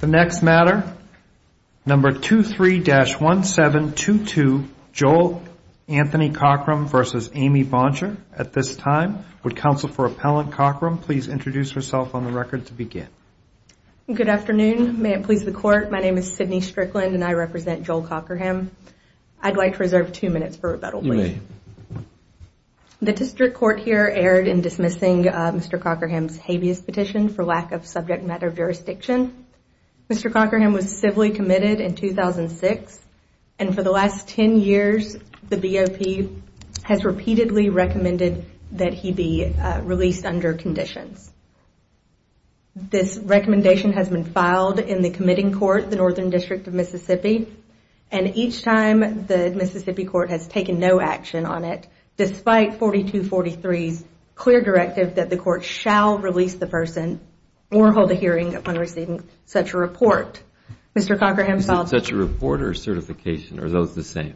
The next matter, number 23-1722, Joel Anthony Cochram v. Amy Boncher at this time. Would Counsel for Appellant Cochram please introduce herself on the record to begin? Good afternoon. May it please the Court, my name is Sydney Strickland and I represent Joel Cochram. I'd like to reserve two minutes for rebuttal, please. The District Court here erred in dismissing Mr. Cochram's habeas petition for lack of subject matter jurisdiction. Mr. Cochram was civilly committed in 2006 and for the last 10 years the BOP has repeatedly recommended that he be released under conditions. This recommendation has been filed in the committing court, the Northern District of Mississippi, and each time the Mississippi Court has taken no action on it, despite 4243's clear directive that the Court shall release the person or hold a hearing upon receiving such a report. Such a report or certification, are those the same?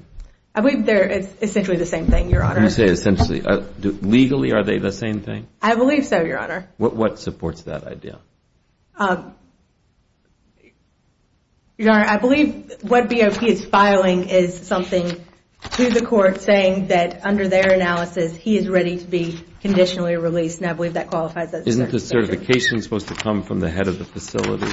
They're essentially the same thing, Your Honor. You say essentially. Legally, are they the same thing? I believe so, Your Honor. What supports that idea? Your Honor, I believe what BOP is filing is something to the Court saying that under their analysis, he is ready to be conditionally released and I believe that qualifies as a certification. Isn't the certification supposed to come from the head of the facility?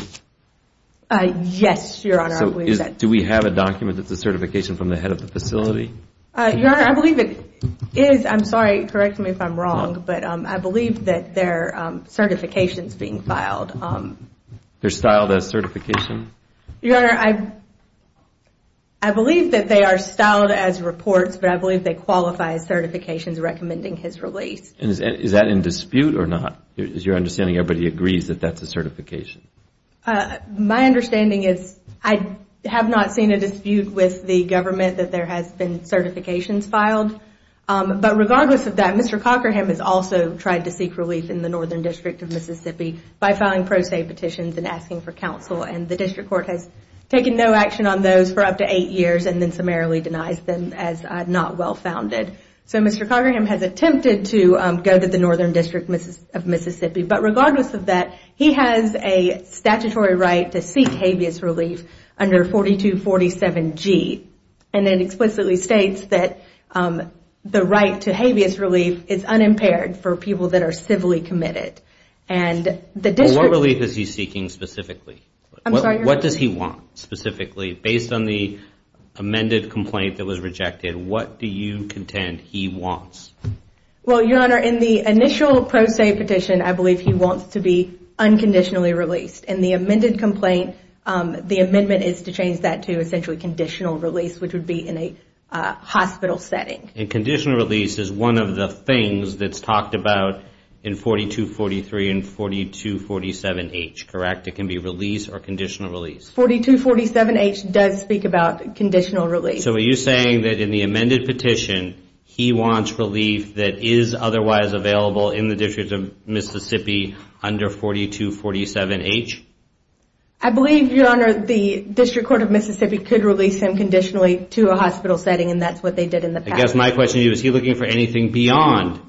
Yes, Your Honor. Do we have a document that's a certification from the head of the facility? Your Honor, I believe it is. I'm sorry, correct me if I'm wrong, but I believe that there are certifications being filed. They're styled as certification? Your Honor, I believe that they are styled as reports, but I believe they qualify as certifications recommending his release. Is that in dispute or not? Is your understanding everybody agrees that that's a certification? My understanding is I have not seen a dispute with the government that there has been certifications filed. Regardless of that, Mr. Cockerham has also tried to seek relief in the Northern District of Mississippi by filing pro se petitions and asking for counsel. The District Court has taken no action on those for up to eight years and then summarily denies them as not well founded. Mr. Cockerham has attempted to go to the Northern District of Mississippi, but regardless of that, he has a statutory right to seek habeas relief under 4247G. It explicitly states that the right to habeas relief is unimpaired for people that are civilly committed. What relief is he seeking specifically? What does he want specifically based on the amended complaint that was rejected? What do you contend he wants? Your Honor, in the initial pro se petition, I believe he wants to be unconditionally released. In the amended complaint, the amendment is to change that to essentially conditional release, which would be in a hospital setting. Conditional release is one of the things that's talked about in 4243 and 4247H, correct? It can be release or conditional release. 4247H does speak about conditional release. So are you saying that in the amended petition, he wants relief that is otherwise available in the District of Mississippi under 4247H? I believe, Your Honor, the District Court of Mississippi could release him conditionally to a hospital setting, and that's what they did in the past. I guess my question to you is, is he looking for anything beyond,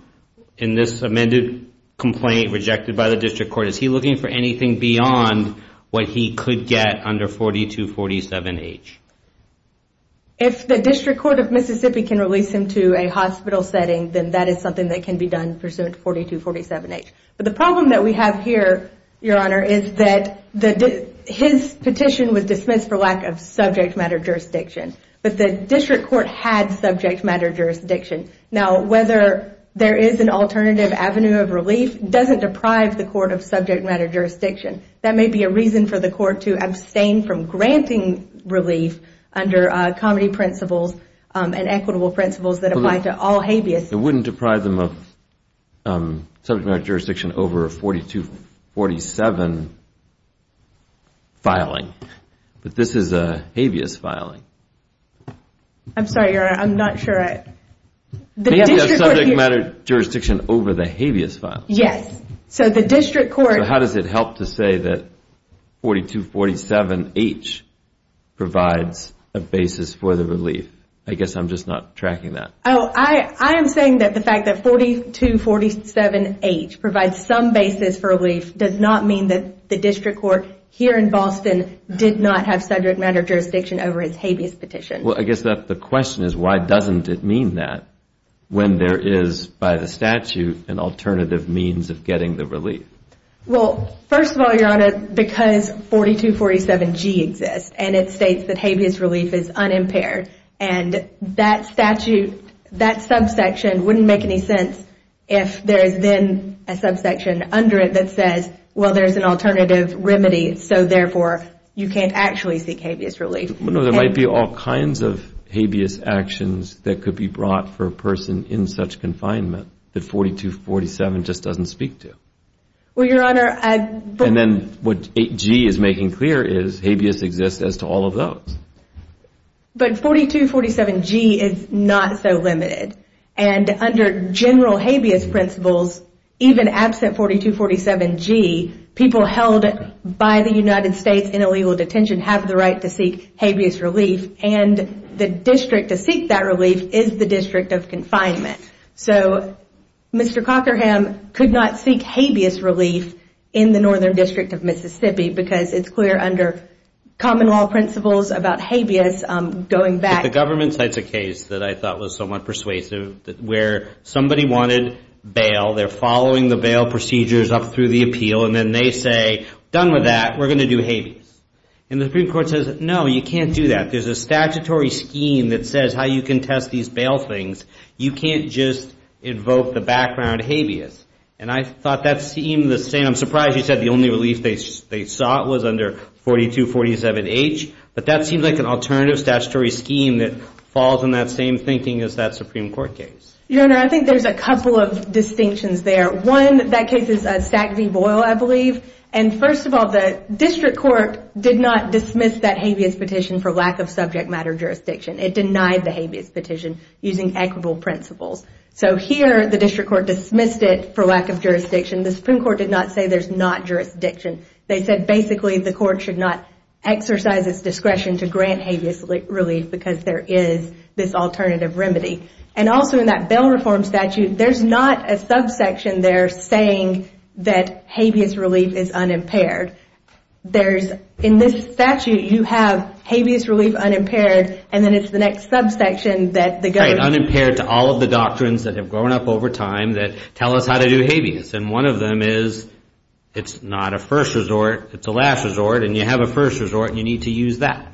in this amended complaint rejected by the District Court, is he looking for anything beyond what he could get under 4247H? If the District Court of Mississippi can release him to a hospital setting, then that is something that can be done pursuant to 4247H. But the problem that we have here, Your Honor, is that his petition was dismissed for lack of subject matter jurisdiction. But the District Court had subject matter jurisdiction. Now, whether there is an alternative avenue of relief doesn't deprive the court of subject matter jurisdiction. That may be a reason for the court to abstain from granting relief under comedy principles and equitable principles that apply to all habeas. It wouldn't deprive them of subject matter jurisdiction over a 4247 filing. But this is a habeas filing. I'm sorry, Your Honor, I'm not sure I... Maybe a subject matter jurisdiction over the habeas filing. Yes. So the District Court... So how does it help to say that 4247H provides a basis for the relief? I guess I'm just not tracking that. Oh, I am saying that the fact that 4247H provides some basis for relief does not mean that the District Court here in Boston did not have subject matter jurisdiction over his habeas petition. Well, I guess the question is why doesn't it mean that when there is, by the statute, an alternative means of getting the relief? Well, first of all, Your Honor, because 4247G exists and it states that habeas relief is unimpaired, and that statute, that subsection wouldn't make any sense if there is then a subsection under it that says, well, there's an alternative remedy, so therefore you can't actually seek habeas relief. Well, no, there might be all kinds of habeas actions that could be brought for a person in such confinement that 4247 just doesn't speak to. Well, Your Honor, I... And then what 8G is making clear is habeas exists as to all of those. But 4247G is not so limited. And under general habeas principles, even absent 4247G, people held by the United States in illegal detention have the right to seek habeas relief, and the district to seek that relief is the district of confinement. So Mr. Cockerham could not seek habeas relief in the Northern District of Mississippi because it's clear under common law principles about habeas going back... But the government cites a case that I thought was somewhat persuasive where somebody wanted bail, they're following the bail procedures up through the appeal, and then they say, done with that, we're going to do habeas. And the Supreme Court says, no, you can't do that. There's a statutory scheme that says how you can test these bail things. You can't just invoke the background habeas. And I thought that seemed the same. I'm surprised you said the only relief they sought was under 4247H. But that seems like an alternative statutory scheme that falls in that same thinking as that Supreme Court case. Your Honor, I think there's a couple of distinctions there. One, that case is Stack v. Boyle, I believe. And first of all, the district court did not dismiss that habeas petition for lack of subject matter jurisdiction. It denied the habeas petition using equitable principles. So here the district court dismissed it for lack of jurisdiction. The Supreme Court did not say there's not jurisdiction. They said basically the court should not exercise its discretion to grant habeas relief because there is this alternative remedy. And also in that bail reform statute, there's not a subsection there saying that habeas relief is unimpaired. There's in this statute you have habeas relief unimpaired and then it's the next subsection that the government... Right, unimpaired to all of the doctrines that have grown up over time that tell us how to do habeas. And one of them is it's not a first resort, it's a last resort. And you have a first resort and you need to use that.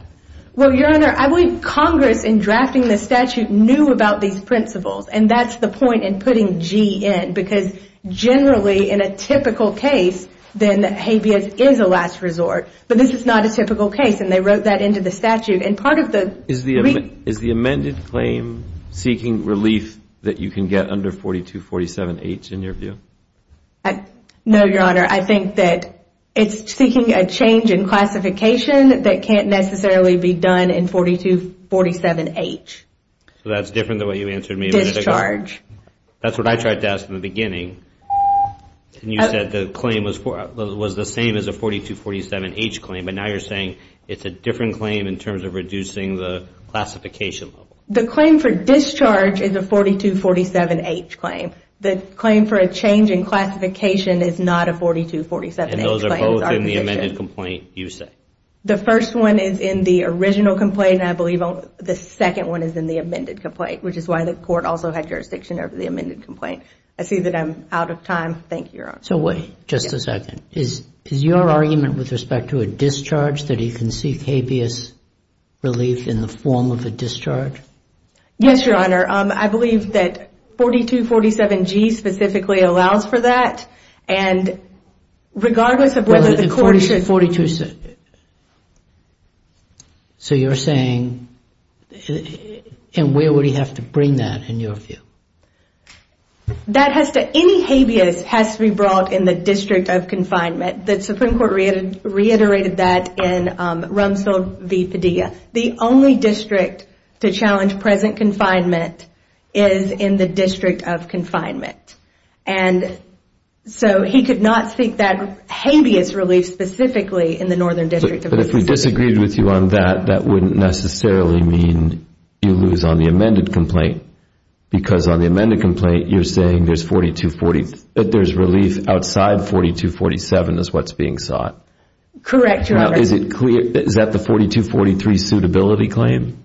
Well, Your Honor, I believe Congress in drafting the statute knew about these principles. And that's the point in putting G in because generally in a typical case, then habeas is a last resort. But this is not a typical case and they wrote that into the statute. Is the amended claim seeking relief that you can get under 4247H in your view? No, Your Honor. I think that it's seeking a change in classification that can't necessarily be done in 4247H. So that's different than what you answered me a minute ago? Discharge. That's what I tried to ask in the beginning. And you said the claim was the same as a 4247H claim, but now you're saying it's a different claim in terms of reducing the classification level. The claim for discharge is a 4247H claim. The claim for a change in classification is not a 4247H claim. And those are both in the amended complaint, you say? The first one is in the original complaint and I believe the second one is in the amended complaint, which is why the court also had jurisdiction over the amended complaint. I see that I'm out of time. Thank you, Your Honor. So wait just a second. Is your argument with respect to a discharge that he can seek habeas relief in the form of a discharge? Yes, Your Honor. I believe that 4247G specifically allows for that. And regardless of whether the court should... 4247... So you're saying... And where would he have to bring that in your view? That has to... Any habeas has to be brought in the district of confinement. The Supreme Court reiterated that in Rumsfeld v. Padilla. The only district to challenge present confinement is in the district of confinement. And so he could not seek that habeas relief specifically in the Northern District of Mississippi. But if we disagreed with you on that, that wouldn't necessarily mean you lose on the amended complaint. Because on the amended complaint, you're saying there's 4240... that there's relief outside 4247 is what's being sought. Correct, Your Honor. Now, is it clear... Is that the 4243 suitability claim?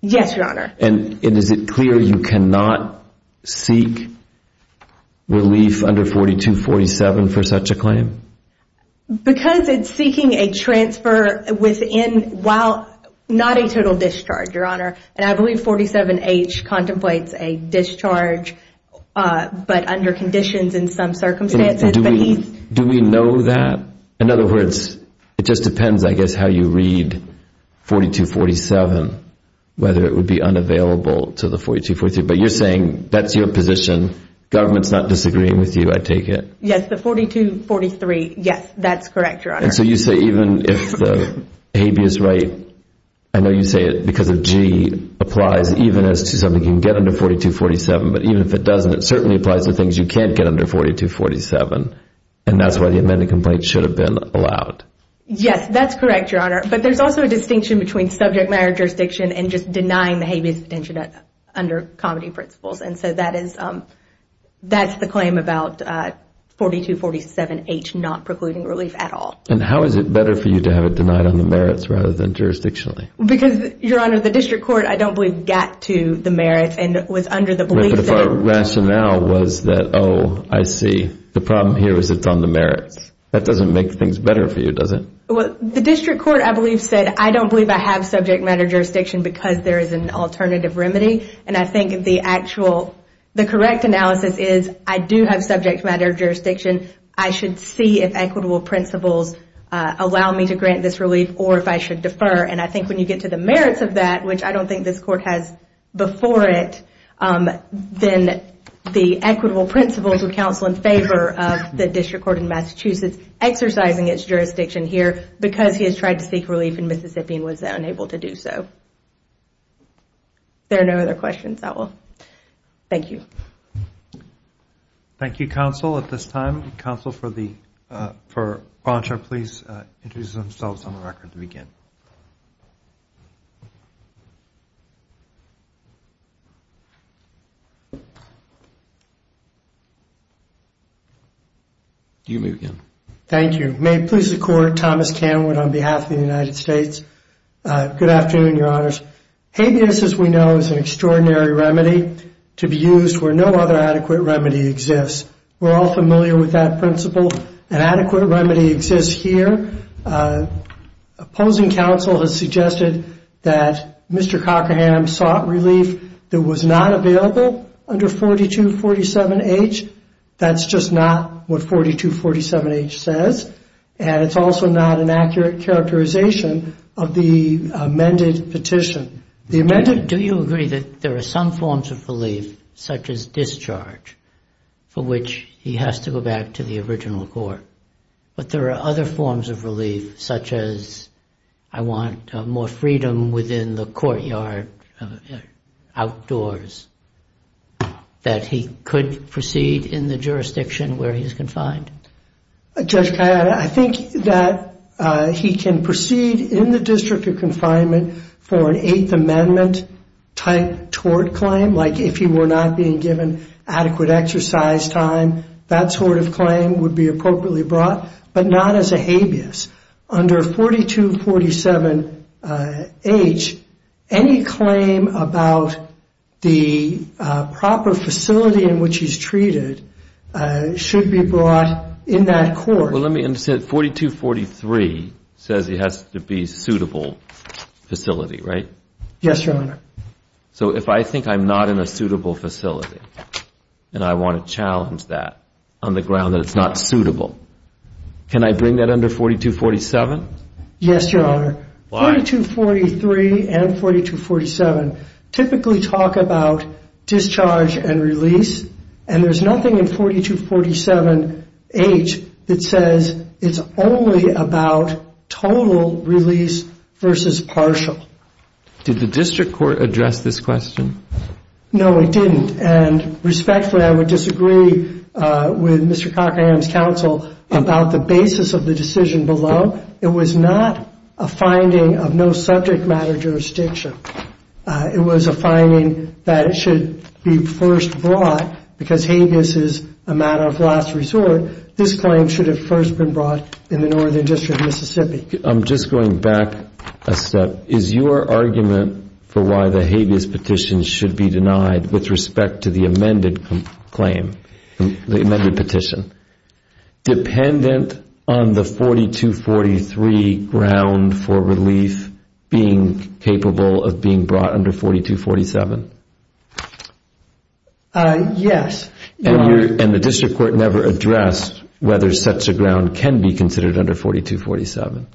Yes, Your Honor. And is it clear you cannot seek relief under 4247 for such a claim? Because it's seeking a transfer within while not a total discharge, Your Honor. And I believe 47H contemplates a discharge, but under conditions in some circumstances. Do we know that? In other words, it just depends, I guess, how you read 4247, whether it would be unavailable to the 4243. But you're saying that's your position. Government's not disagreeing with you, I take it. Yes, the 4243, yes, that's correct, Your Honor. And so you say even if the habeas right... I know you say it because of G, applies even as to something you can get under 4247. But even if it doesn't, it certainly applies to things you can't get under 4247. And that's why the amended complaint should have been allowed. Yes, that's correct, Your Honor. But there's also a distinction between subject matter jurisdiction and just denying the habeas potential under comedy principles. And so that's the claim about 4247H not precluding relief at all. And how is it better for you to have it denied on the merits rather than jurisdictionally? Because, Your Honor, the district court, I don't believe, got to the merits and was under the belief that... But if our rationale was that, oh, I see. The problem here is it's on the merits. That doesn't make things better for you, does it? Well, the district court, I believe, said, I don't believe I have subject matter jurisdiction because there is an alternative remedy. And I think the correct analysis is I do have subject matter jurisdiction. I should see if equitable principles allow me to grant this relief or if I should defer. And I think when you get to the merits of that, which I don't think this court has before it, then the equitable principles would counsel in favor of the district court in Massachusetts exercising its jurisdiction here because he has tried to seek relief in Mississippi and was unable to do so. If there are no other questions, I will. Thank you. Thank you, counsel, at this time. Thank you, counsel. For Bonchart, please introduce themselves on the record to begin. You may begin. Thank you. May it please the Court, Thomas Canwood on behalf of the United States. Good afternoon, Your Honors. Habeas, as we know, is an extraordinary remedy to be used where no other adequate remedy exists. We're all familiar with that principle. An adequate remedy exists here. Opposing counsel has suggested that Mr. Cockerham sought relief that was not available under 4247H. That's just not what 4247H says. And it's also not an accurate characterization of the amended petition. Do you agree that there are some forms of relief, such as discharge, for which he has to go back to the original court, but there are other forms of relief, such as, I want more freedom within the courtyard outdoors, that he could proceed in the jurisdiction where he is confined? Judge Kayaba, I think that he can proceed in the district of confinement for an Eighth Amendment-type tort claim, like if he were not being given adequate exercise time, that sort of claim would be appropriately brought, but not as a habeas. Under 4247H, any claim about the proper facility in which he's treated should be brought in that court. Well, let me understand. 4243 says he has to be a suitable facility, right? Yes, Your Honor. So if I think I'm not in a suitable facility and I want to challenge that on the ground that it's not suitable, can I bring that under 4247? Yes, Your Honor. Why? 4243 and 4247 typically talk about discharge and release, and there's nothing in 4247H that says it's only about total release versus partial. Did the district court address this question? No, it didn't, and respectfully, I would disagree with Mr. Cochran's counsel about the basis of the decision below. It was not a finding of no subject matter jurisdiction. It was a finding that it should be first brought because habeas is a matter of last resort. This claim should have first been brought in the Northern District of Mississippi. I'm just going back a step. Is your argument for why the habeas petition should be denied with respect to the amended claim, the amended petition, dependent on the 4243 ground for relief being capable of being brought under 4247? Yes. And the district court never addressed whether such a ground can be considered under 4247?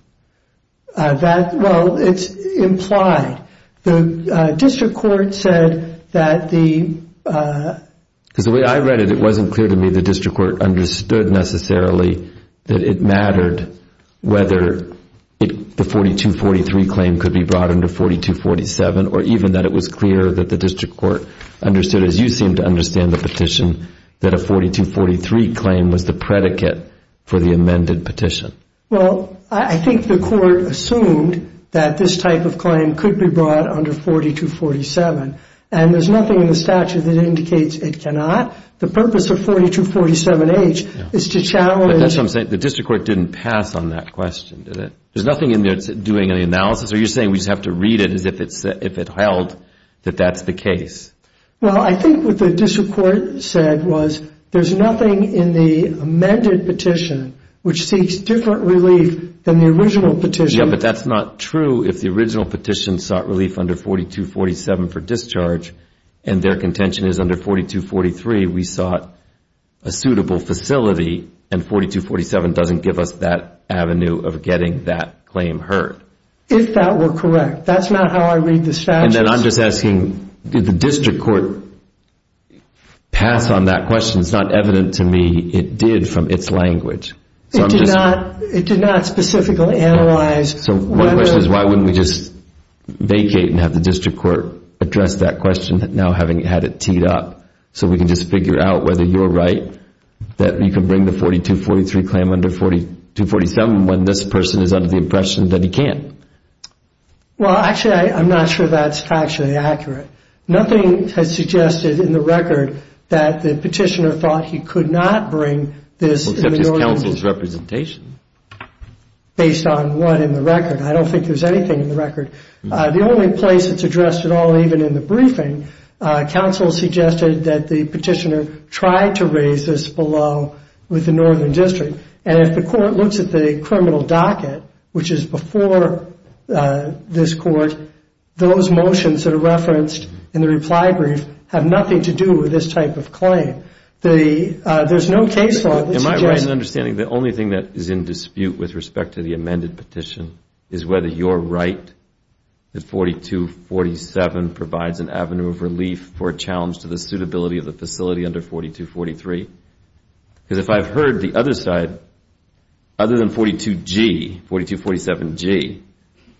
Well, it's implied. The district court said that the... Because the way I read it, it wasn't clear to me the district court understood necessarily that it mattered whether the 4243 claim could be brought under 4247 or even that it was clear that the district court understood, as you seem to understand the petition, that a 4243 claim was the predicate for the amended petition. Well, I think the court assumed that this type of claim could be brought under 4247, and there's nothing in the statute that indicates it cannot. The purpose of 4247H is to challenge... But that's what I'm saying. The district court didn't pass on that question, did it? There's nothing in there doing any analysis? Are you saying we just have to read it as if it held that that's the case? Well, I think what the district court said was there's nothing in the amended petition which seeks different relief than the original petition. Yeah, but that's not true. If the original petition sought relief under 4247 for discharge and their contention is under 4243 we sought a suitable facility and 4247 doesn't give us that avenue of getting that claim heard. If that were correct. That's not how I read the statute. And then I'm just asking, did the district court pass on that question? It's not evident to me it did from its language. It did not specifically analyze... So my question is why wouldn't we just vacate and have the district court address that question now having had it teed up so we can just figure out whether you're right, that you can bring the 4243 claim under 4247 when this person is under the impression that he can't. Well, actually I'm not sure that's factually accurate. Nothing has suggested in the record that the petitioner thought he could not bring this except his counsel's representation. Based on what in the record? I don't think there's anything in the record. The only place it's addressed at all, even in the briefing, counsel suggested that the petitioner tried to raise this below with the northern district. And if the court looks at the criminal docket, which is before this court, those motions that are referenced in the reply brief have nothing to do with this type of claim. There's no case law that suggests... Am I right in understanding the only thing that is in dispute with respect to the amended petition is whether you're right that 4247 provides an avenue of relief for a challenge to the suitability of the facility under 4243? Because if I've heard the other side, other than 4247G,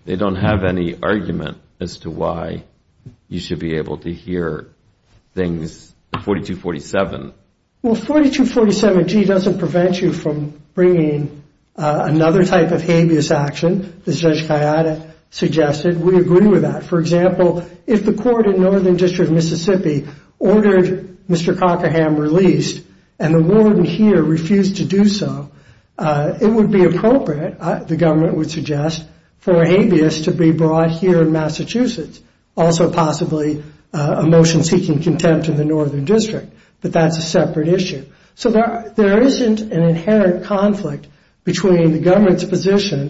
they don't have any argument as to why you should be able to hear things 4247. Well, 4247G doesn't prevent you from bringing another type of habeas action, as Judge Kayada suggested. We agree with that. For example, if the court in northern district of Mississippi ordered Mr. Cockerham released and the warden here refused to do so, it would be appropriate, the government would suggest, for habeas to be brought here in Massachusetts, also possibly a motion seeking contempt in the northern district. But that's a separate issue. So there isn't an inherent conflict between the government's position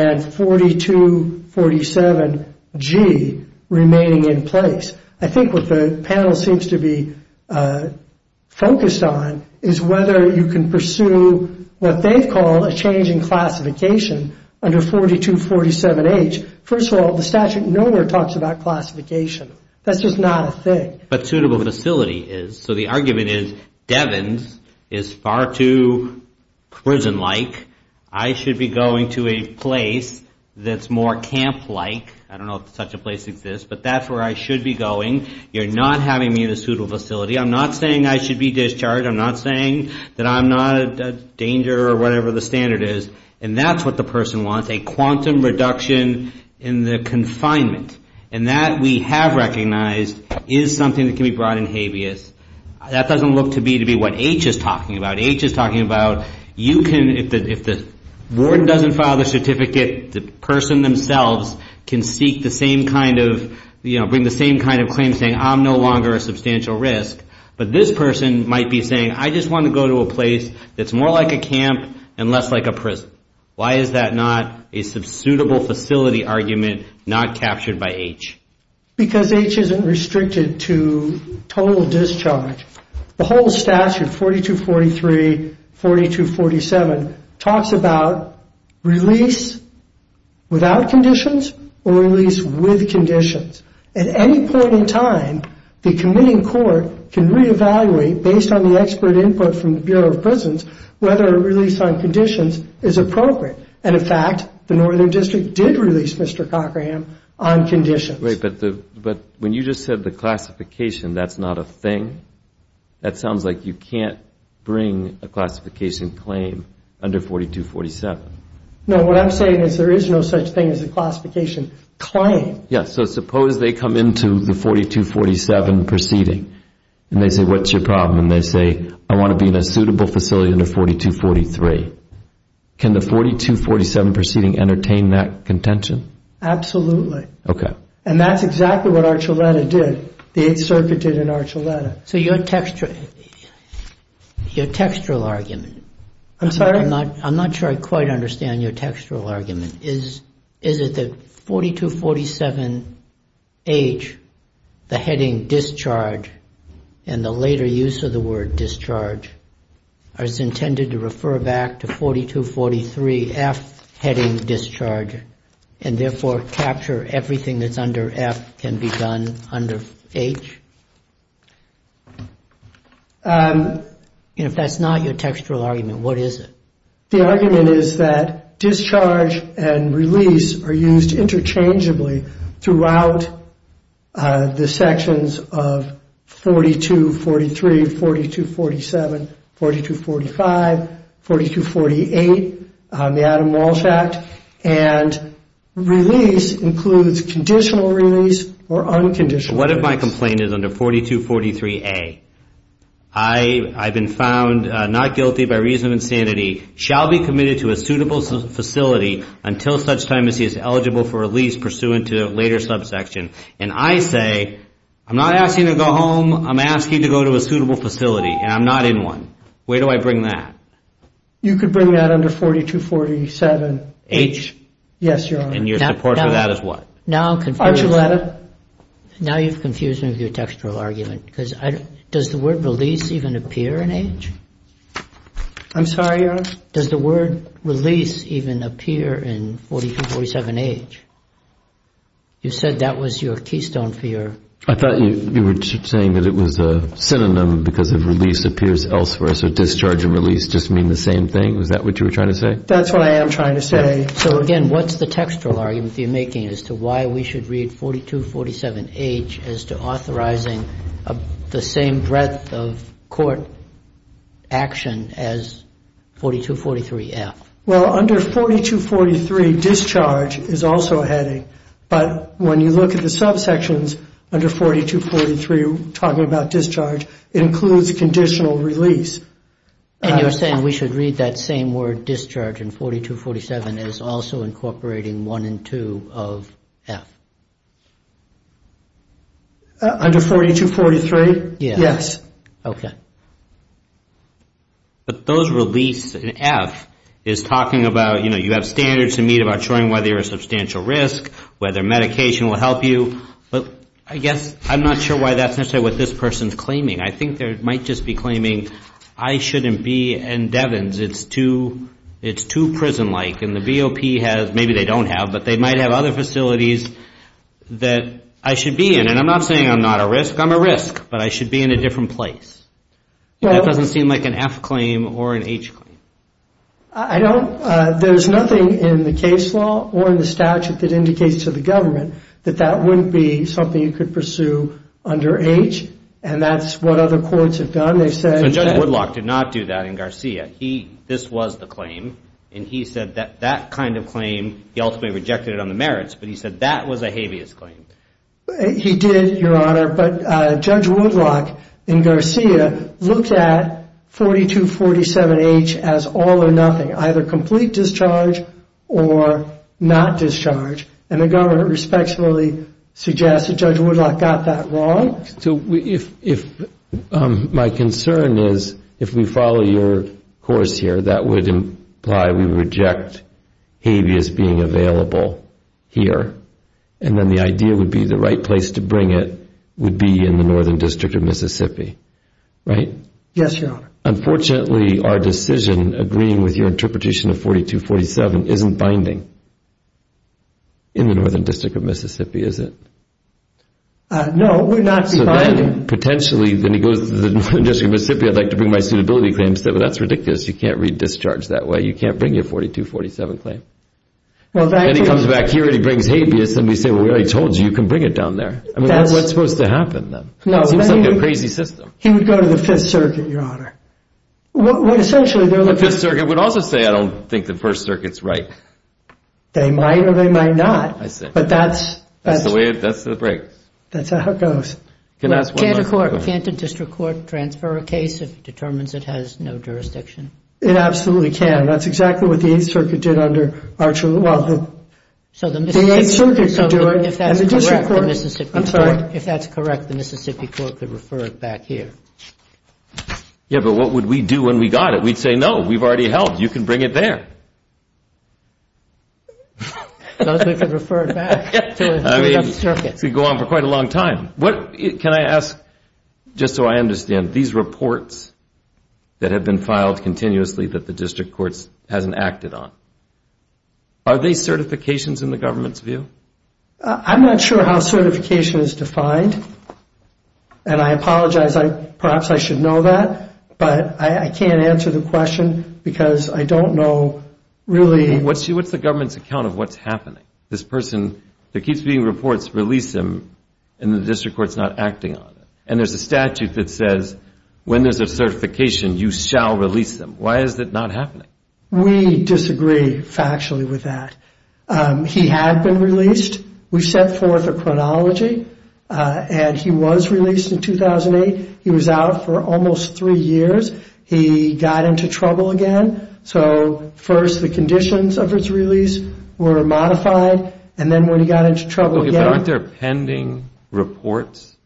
and 4247G remaining in place. I think what the panel seems to be focused on is whether you can pursue what they've called a change in classification under 4247H. First of all, the statute nowhere talks about classification. That's just not a thing. But suitable facility is. So the argument is Devens is far too prison-like. I should be going to a place that's more camp-like. I don't know if such a place exists, but that's where I should be going. You're not having me in a suitable facility. I'm not saying I should be discharged. I'm not saying that I'm not a danger or whatever the standard is. And that's what the person wants, a quantum reduction in the confinement. And that, we have recognized, is something that can be brought in habeas. That doesn't look to be what H is talking about. H is talking about you can, if the warden doesn't file the certificate, the person themselves can seek the same kind of, you know, bring the same kind of claim saying I'm no longer a substantial risk. But this person might be saying I just want to go to a place that's more like a camp and less like a prison. Why is that not a suitable facility argument not captured by H? Because H isn't restricted to total discharge. The whole statute, 4243, 4247, talks about release without conditions or release with conditions. At any point in time, the committing court can reevaluate, based on the expert input from the Bureau of Prisons, whether a release on conditions is appropriate. And, in fact, the Northern District did release Mr. Cochran on conditions. Right, but when you just said the classification, that's not a thing? That sounds like you can't bring a classification claim under 4247. No, what I'm saying is there is no such thing as a classification claim. Yeah, so suppose they come into the 4247 proceeding and they say what's your problem? And they say I want to be in a suitable facility under 4243. Can the 4247 proceeding entertain that contention? Absolutely. Okay. And that's exactly what Archuleta did. The 8th Circuit did in Archuleta. So your textual argument. I'm sorry? I'm not sure I quite understand your textual argument. Is it that 4247H, the heading discharge, and the later use of the word discharge, is intended to refer back to 4243F, heading discharge, and therefore capture everything that's under F can be done under H? If that's not your textual argument, what is it? The argument is that discharge and release are used interchangeably throughout the sections of 4243, 4247, 4245, 4248, the Adam Walsh Act, and release includes conditional release or unconditional release. What if my complaint is under 4243A? I've been found not guilty by reason of insanity, shall be committed to a suitable facility until such time as he is eligible for release pursuant to a later subsection, and I say I'm not asking you to go home. I'm asking you to go to a suitable facility, and I'm not in one. Where do I bring that? You could bring that under 4247H. H? Yes, Your Honor. And your support for that is what? Archuleta. Now you've confused me with your textual argument, because does the word release even appear in H? I'm sorry, Your Honor? Does the word release even appear in 4247H? You said that was your keystone for your... I thought you were saying that it was a synonym because of release appears elsewhere, so discharge and release just mean the same thing. Was that what you were trying to say? That's what I am trying to say. So, again, what's the textual argument that you're making as to why we should read 4247H as to authorizing the same breadth of court action as 4243F? Well, under 4243, discharge is also a heading, but when you look at the subsections under 4243 talking about discharge, it includes conditional release. And you're saying we should read that same word discharge in 4247 as also incorporating 1 and 2 of F? Under 4243, yes. But those release in F is talking about, you know, you have standards to meet about showing whether you're a substantial risk, whether medication will help you. I guess I'm not sure why that's necessarily what this person's claiming. I think they might just be claiming I shouldn't be in Devens. It's too prison-like, and the BOP has, maybe they don't have, but they might have other facilities that I should be in. And I'm not saying I'm not a risk. I'm a risk, but I should be in a different place. That doesn't seem like an F claim or an H claim. I don't. There's nothing in the case law or in the statute that indicates to the government that that wouldn't be something you could pursue under H, and that's what other courts have done. So Judge Woodlock did not do that in Garcia. This was the claim, and he said that that kind of claim, he ultimately rejected it on the merits, but he said that was a habeas claim. He did, Your Honor, but Judge Woodlock in Garcia looked at 4247H as all or nothing, either complete discharge or not discharge, and the government respectfully suggests that Judge Woodlock got that wrong. My concern is if we follow your course here, that would imply we reject habeas being available here, and then the idea would be the right place to bring it would be in the Northern District of Mississippi, right? Yes, Your Honor. Unfortunately, our decision agreeing with your interpretation of 4247 isn't binding in the Northern District of Mississippi, is it? No, it would not be binding. Potentially, then he goes to the Northern District of Mississippi, I'd like to bring my suitability claims there, but that's ridiculous. You can't read discharge that way. You can't bring your 4247 claim. Then he comes back here, and he brings habeas, and we say, well, we already told you. You can bring it down there. I mean, what's supposed to happen then? It seems like a crazy system. He would go to the Fifth Circuit, Your Honor. The Fifth Circuit would also say, I don't think the First Circuit's right. They might, or they might not. That's the way it breaks. That's how it goes. Can't a district court transfer a case if it determines it has no jurisdiction? It absolutely can. That's exactly what the Eighth Circuit did under Archer. The Eighth Circuit could do it, and the district court, I'm sorry. If that's correct, the Mississippi court could refer it back here. Yeah, but what would we do when we got it? We'd say, no, we've already held. You can bring it there. As long as we could refer it back to the Fifth Circuit. I mean, it could go on for quite a long time. Can I ask, just so I understand, these reports that have been filed continuously that the district courts hasn't acted on, are they certifications in the government's view? I'm not sure how certification is defined, and I apologize. Perhaps I should know that, but I can't answer the question because I don't know really. What's the government's account of what's happening? This person, there keeps being reports, release him, and the district court's not acting on it. And there's a statute that says when there's a certification, you shall release them. Why is that not happening? We disagree factually with that. He had been released. We've set forth a chronology, and he was released in 2008. He was out for almost three years. He got into trouble again. So first the conditions of his release were modified, and then when he got into trouble again. Okay, but aren't there pending reports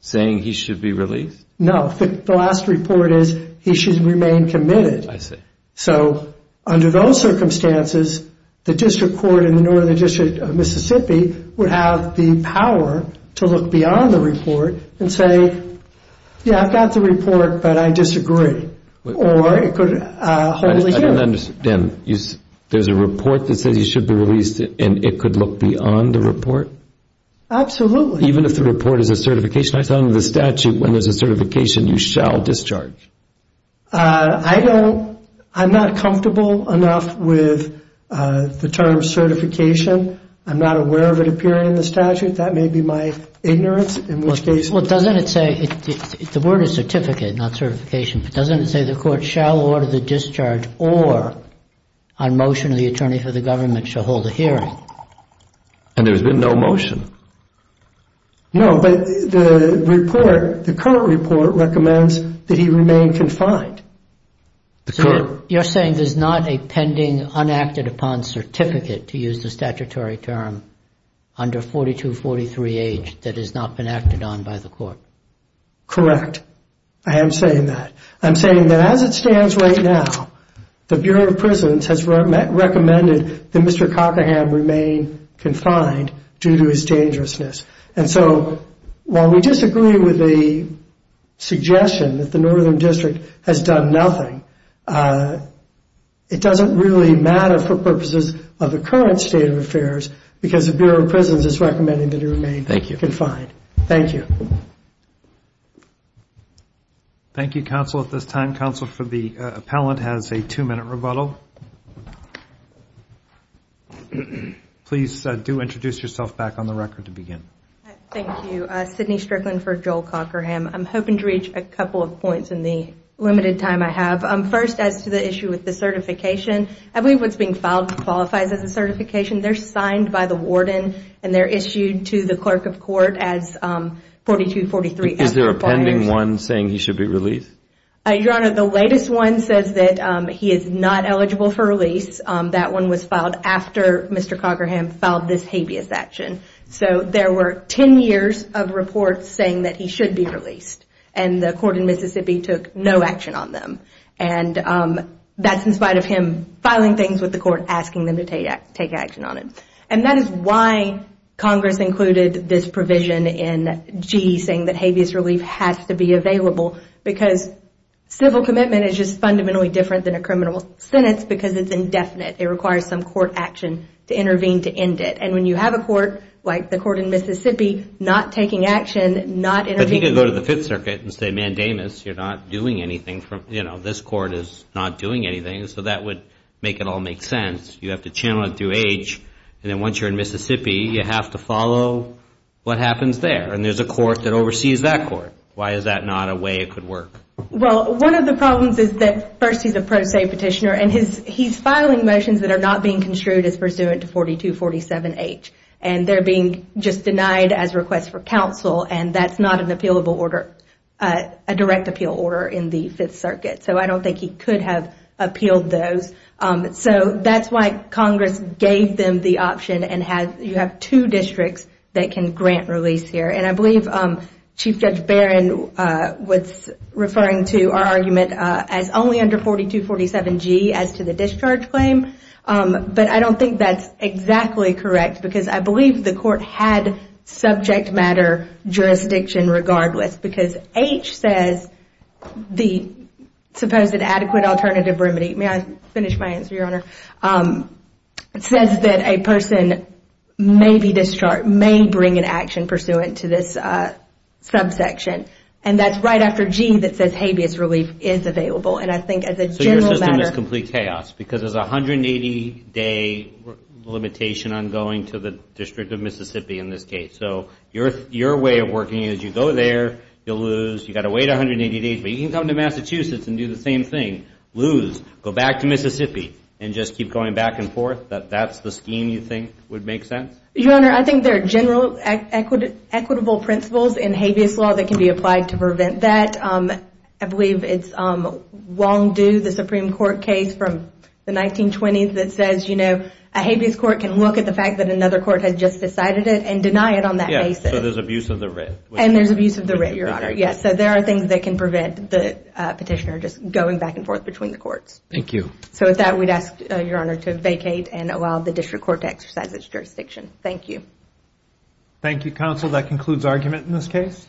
saying he should be released? No. The last report is he should remain committed. I see. So under those circumstances, the district court in the Northern District of Mississippi would have the power to look beyond the report and say, yeah, I've got the report, but I disagree. Or it could wholly give. I don't understand. There's a report that says he should be released, and it could look beyond the report? Absolutely. Even if the report is a certification? I saw under the statute when there's a certification, you shall discharge. I'm not comfortable enough with the term certification. I'm not aware of it appearing in the statute. That may be my ignorance. Well, doesn't it say, the word is certificate, not certification, but doesn't it say the court shall order the discharge or on motion of the attorney for the government shall hold a hearing? And there's been no motion. No, but the report, the current report recommends that he remain confined. So you're saying there's not a pending, unacted upon certificate, to use the statutory term, under 42, 43 age, that has not been acted on by the court? Correct. I am saying that. I'm saying that as it stands right now, the Bureau of Prisons has recommended that Mr. Cockerham remain confined due to his dangerousness. And so while we disagree with the suggestion that the Northern District has done nothing, it doesn't really matter for purposes of the current state of affairs because the Bureau of Prisons is recommending that he remain confined. Thank you. Thank you, counsel, at this time. Counsel for the appellant has a two-minute rebuttal. Please do introduce yourself back on the record to begin. Thank you. Sydney Strickland for Joel Cockerham. I'm hoping to reach a couple of points in the limited time I have. First, as to the issue with the certification, I believe what's being filed qualifies as a certification. They're signed by the warden and they're issued to the clerk of court as 42, 43. Is there a pending one saying he should be released? Your Honor, the latest one says that he is not eligible for release. That one was filed after Mr. Cockerham filed this habeas action. So there were 10 years of reports saying that he should be released. And the court in Mississippi took no action on them. And that's in spite of him filing things with the court asking them to take action on it. And that is why Congress included this provision in G saying that habeas relief has to be available because civil commitment is just fundamentally different than a criminal sentence because it's indefinite. It requires some court action to intervene to end it. And when you have a court like the court in Mississippi not taking action, not intervening. But he could go to the Fifth Circuit and say mandamus. You're not doing anything. This court is not doing anything. So that would make it all make sense. You have to channel it through H. And then once you're in Mississippi, you have to follow what happens there. And there's a court that oversees that court. Why is that not a way it could work? Well, one of the problems is that first he's a pro se petitioner and he's filing motions that are not being construed as pursuant to 4247H. And they're being just denied as requests for counsel. And that's not an appealable order, a direct appeal order in the Fifth Circuit. So I don't think he could have appealed those. So that's why Congress gave them the option and you have two districts that can grant release here. And I believe Chief Judge Barron was referring to our argument as only under 4247G as to the discharge claim. But I don't think that's exactly correct because I believe the court had subject matter jurisdiction regardless because H says the supposed adequate alternative remedy. May I finish my answer, Your Honor? It says that a person may be discharged, may bring an action pursuant to this subsection. And that's right after G that says habeas relief is available. And I think as a general matter... So your system is complete chaos because there's a 180-day limitation on going to the District of Mississippi in this case. So your way of working is you go there, you'll lose. You've got to wait 180 days. But you can come to Massachusetts and do the same thing. Lose, go back to Mississippi, and just keep going back and forth? That that's the scheme you think would make sense? Your Honor, I think there are general equitable principles in habeas law that can be applied to prevent that. I believe it's Wong Do, the Supreme Court case from the 1920s that says, you know, a habeas court can look at the fact that another court had just decided it and deny it on that basis. Yeah, so there's abuse of the writ. And there's abuse of the writ, Your Honor. Yes, so there are things that can prevent the petitioner just going back and forth between the courts. Thank you. So with that, we'd ask Your Honor to vacate and allow the district court to exercise its jurisdiction. Thank you. Thank you, counsel. That concludes argument in this case.